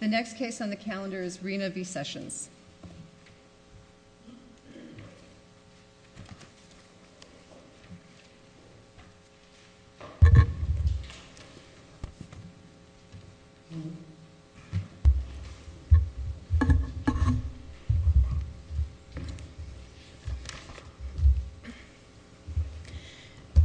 The next case on the calendar is Reina v. Sessions.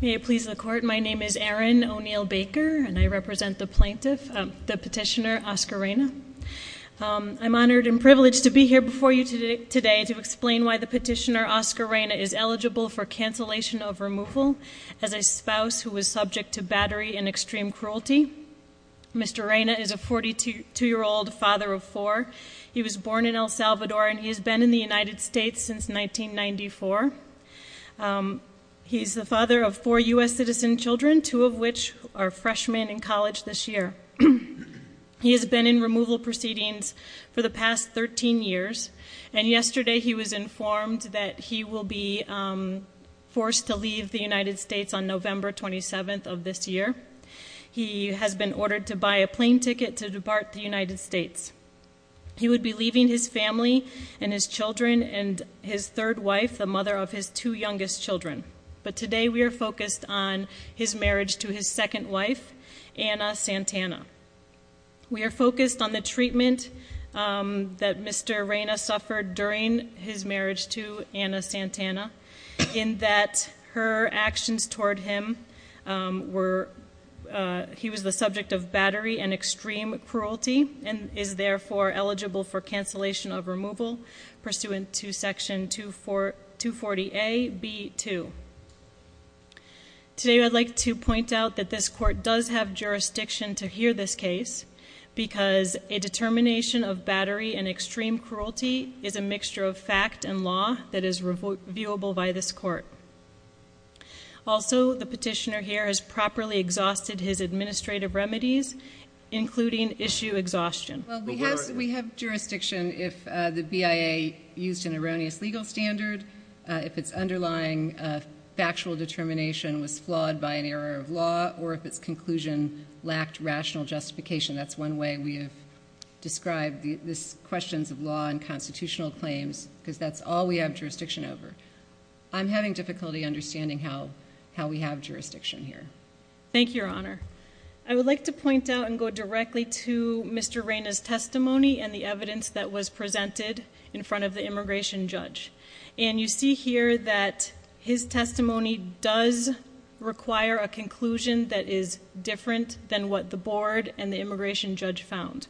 May it please the Court, my name is Erin O'Neill Baker, and I represent the petitioner, Oscar Reina. I'm honored and privileged to be here before you today to explain why the petitioner, Oscar Reina, is eligible for cancellation of removal as a spouse who was subject to battery and extreme cruelty. Mr. Reina is a 42-year-old father of four. He was born in El Salvador, and he has been in the United States since 1994. He's the father of four U.S. citizen children, two of which are freshmen in college this year. He has been in removal proceedings for the past 13 years, and yesterday he was informed that he will be forced to leave the United States on November 27th of this year. He has been ordered to buy a plane ticket to depart the United States. He would be leaving his family and his children and his third wife, the mother of his two youngest children. But today we are focused on his marriage to his second wife, Anna Santana. We are focused on the treatment that Mr. Reina suffered during his marriage to Anna Santana in that her actions toward him were, he was the subject of battery and extreme cruelty and is therefore eligible for cancellation of removal pursuant to Section 240A.B.2. Today I'd like to point out that this court does have jurisdiction to hear this case because a determination of battery and extreme cruelty is a mixture of fact and law that is viewable by this court. Also, the petitioner here has properly exhausted his administrative remedies, including issue exhaustion. Well, we have jurisdiction if the BIA used an erroneous legal standard, if its underlying factual determination was flawed by an error of law, or if its conclusion lacked rational justification. That's one way we have described these questions of law and constitutional claims because that's all we have jurisdiction over. I'm having difficulty understanding how we have jurisdiction here. Thank you, Your Honor. I would like to point out and go directly to Mr. Reyna's testimony and the evidence that was presented in front of the immigration judge. And you see here that his testimony does require a conclusion that is different than what the board and the immigration judge found.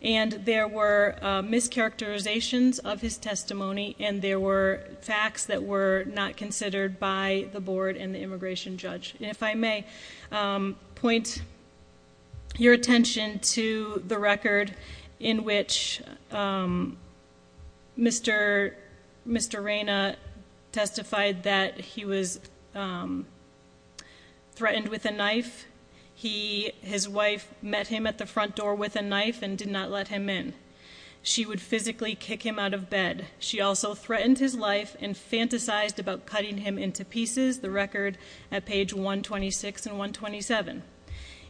And there were mischaracterizations of his testimony, and there were facts that were not considered by the board and the immigration judge. If I may point your attention to the record in which Mr. Reyna testified that he was threatened with a knife. His wife met him at the front door with a knife and did not let him in. She would physically kick him out of bed. She also threatened his life and fantasized about cutting him into pieces. The record at page 126 and 127.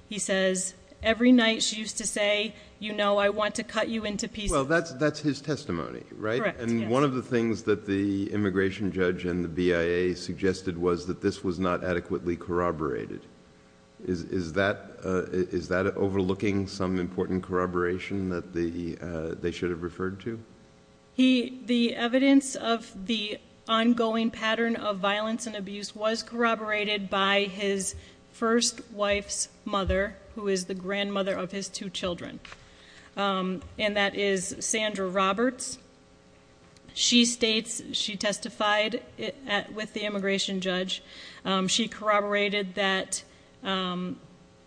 He says, every night she used to say, you know, I want to cut you into pieces. Well, that's his testimony, right? Correct, yes. And one of the things that the immigration judge and the BIA suggested was that this was not adequately corroborated. Is that overlooking some important corroboration that they should have referred to? The evidence of the ongoing pattern of violence and abuse was corroborated by his first wife's mother, who is the grandmother of his two children. And that is Sandra Roberts. She states, she testified with the immigration judge, she corroborated that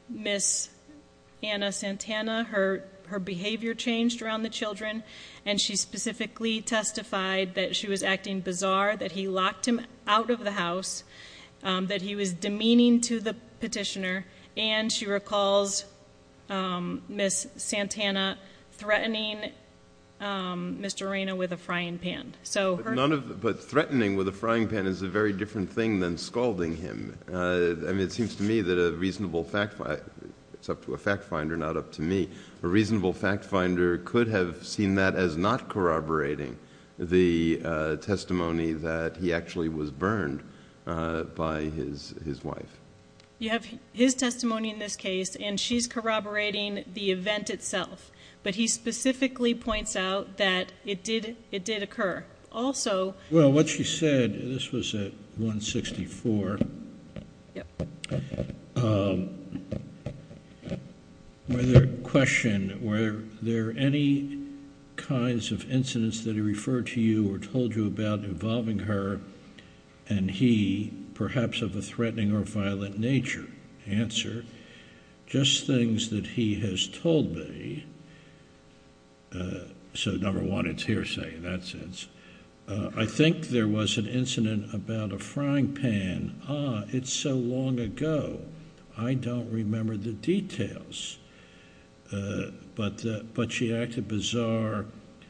Miss Anna Santana, her behavior changed around the children, and she specifically testified that she was acting bizarre, that he locked him out of the house, that he was demeaning to the petitioner, and she recalls Miss Santana threatening Mr. Arena with a frying pan. But threatening with a frying pan is a very different thing than scalding him. I mean, it seems to me that a reasonable fact finder, it's up to a fact finder, not up to me, a reasonable fact finder could have seen that as not corroborating the testimony that he actually was burned by his wife. You have his testimony in this case, and she's corroborating the event itself. But he specifically points out that it did occur. Also... Well, what she said, this was at 164. Yep. Was there a question, were there any kinds of incidents that he referred to you or told you about involving her and he perhaps of a threatening or violent nature? Answer, just things that he has told me. So number one, it's hearsay in that sense. I think there was an incident about a frying pan. Ah, it's so long ago, I don't remember the details. But she acted bizarre.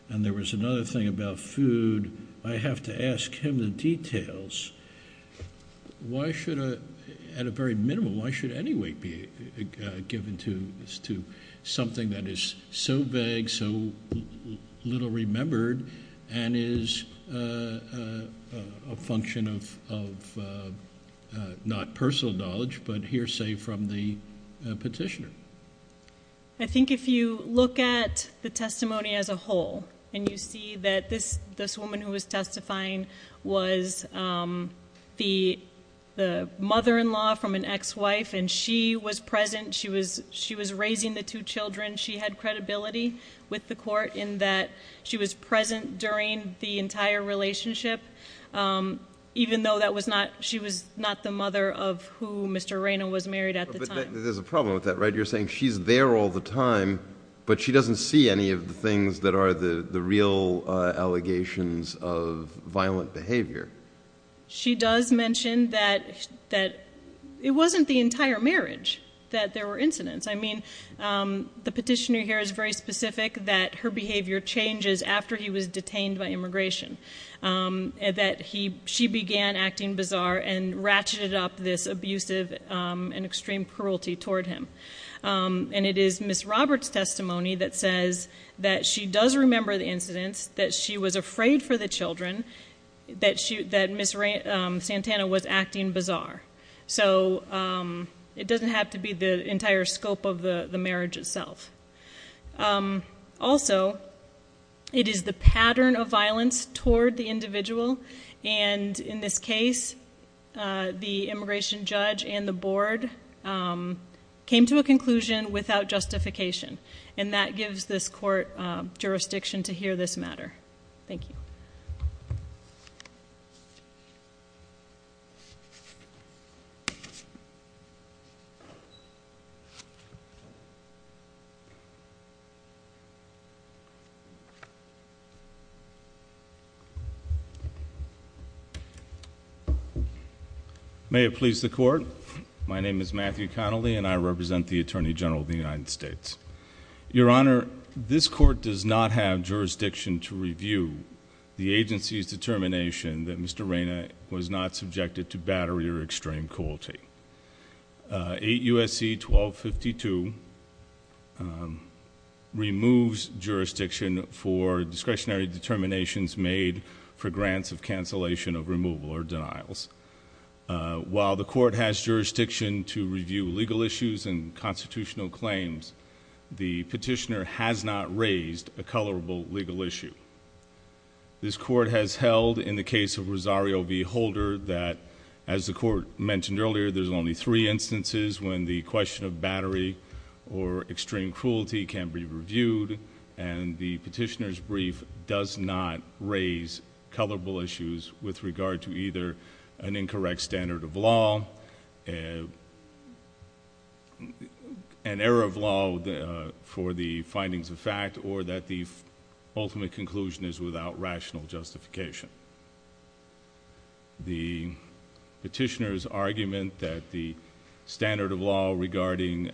And there was another thing about food. I have to ask him the details. Why should, at a very minimal, why should any weight be given to something that is so vague, so little remembered, and is a function of not personal knowledge, but hearsay from the petitioner? I think if you look at the testimony as a whole and you see that this woman who was testifying was the mother-in-law from an ex-wife, and she was present, she was raising the two children, she had credibility with the court in that she was present during the entire relationship, even though she was not the mother of who Mr. Reyna was married at the time. But there's a problem with that, right? You're saying she's there all the time, but she doesn't see any of the things that are the real allegations of violent behavior. She does mention that it wasn't the entire marriage that there were incidents. I mean, the petitioner here is very specific that her behavior changes after he was detained by immigration, that she began acting bizarre and ratcheted up this abusive and extreme cruelty toward him. And it is Ms. Roberts' testimony that says that she does remember the incidents, that she was afraid for the children, that Ms. Santana was acting bizarre. So it doesn't have to be the entire scope of the marriage itself. Also, it is the pattern of violence toward the individual, and in this case, the immigration judge and the board came to a conclusion without justification, and that gives this court jurisdiction to hear this matter. Thank you. Thank you. May it please the court. My name is Matthew Connolly, and I represent the Attorney General of the United States. Your Honor, this court does not have jurisdiction to review the agency's determination that Mr. Reyna was not subjected to bad or extreme cruelty. 8 U.S.C. 1252 removes jurisdiction for discretionary determinations made for grants of cancellation of removal or denials. While the court has jurisdiction to review legal issues and constitutional claims, the petitioner has not raised a colorable legal issue. This court has held, in the case of Rosario v. Holder, that, as the court mentioned earlier, there's only three instances when the question of battery or extreme cruelty can be reviewed, and the petitioner's brief does not raise colorable issues with regard to either an incorrect standard of law, an error of law for the findings of fact, or that the ultimate conclusion is without rational justification. The petitioner's argument that the standard of law regarding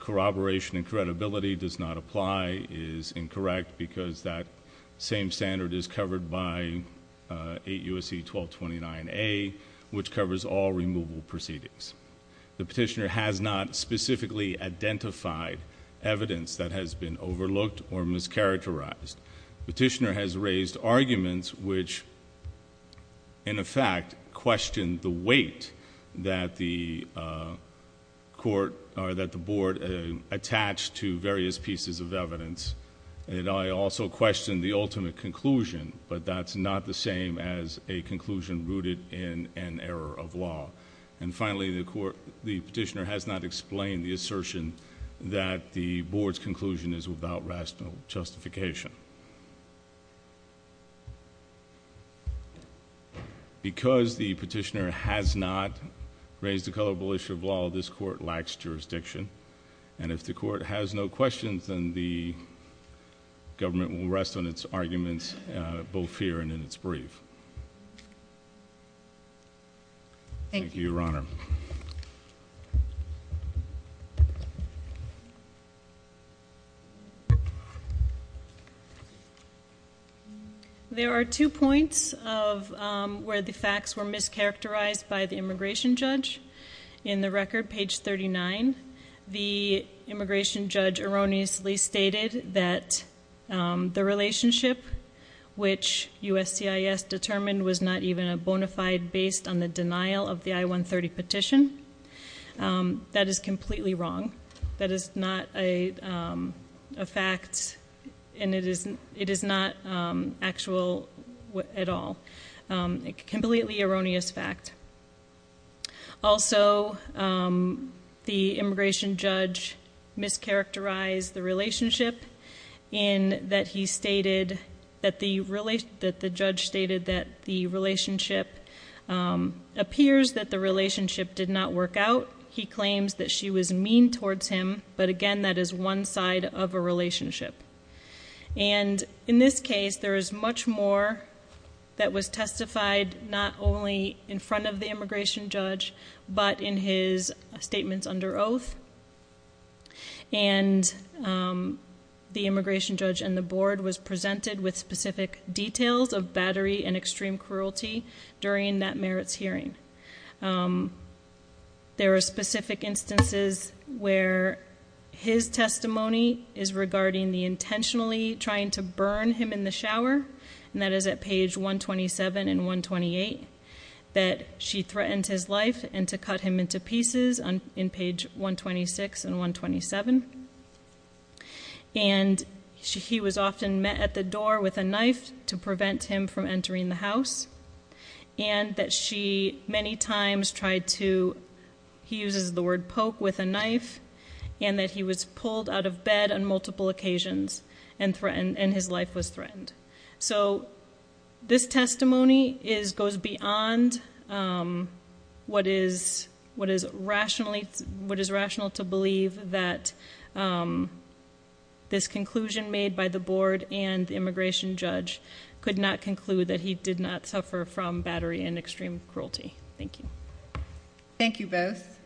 corroboration and credibility does not apply is incorrect because that same standard is covered by 8 U.S.C. 1229A, which covers all removal proceedings. The petitioner has not specifically identified evidence that has been overlooked or mischaracterized. The petitioner has raised arguments which, in effect, question the weight that the board attached to various pieces of evidence, and I also question the ultimate conclusion, but that's not the same as a conclusion rooted in an error of law. And finally, the petitioner has not explained the assertion that the board's conclusion is without rational justification. Because the petitioner has not raised a colorable issue of law, this court lacks jurisdiction, and if the court has no questions, then the government will rest on its arguments, both here and in its brief. Thank you, Your Honor. Thank you. There are two points where the facts were mischaracterized by the immigration judge. In the record, page 39, the immigration judge erroneously stated that the relationship which USCIS determined was not even a bona fide based on the denial of the I-130 petition. That is completely wrong. That is not a fact, and it is not actual at all. A completely erroneous fact. Also, the immigration judge mischaracterized the relationship in that he stated that the judge stated that the relationship appears that the relationship did not work out. He claims that she was mean towards him, but again, that is one side of a relationship. And in this case, there is much more that was testified not only in front of the immigration judge, but in his statements under oath, and the immigration judge and the board was presented with specific details of battery and extreme cruelty during that merits hearing. There are specific instances where his testimony is regarding the intentionally trying to burn him in the shower, and that is at page 127 and 128, that she threatened his life and to cut him into pieces in page 126 and 127, and he was often met at the door with a knife to prevent him from entering the house, and that she many times tried to, he uses the word poke with a knife, and that he was pulled out of bed on multiple occasions and his life was threatened. So this testimony goes beyond what is rational to believe that this conclusion made by the board and the immigration judge could not conclude that he did not suffer from battery and extreme cruelty. Thank you. Thank you both.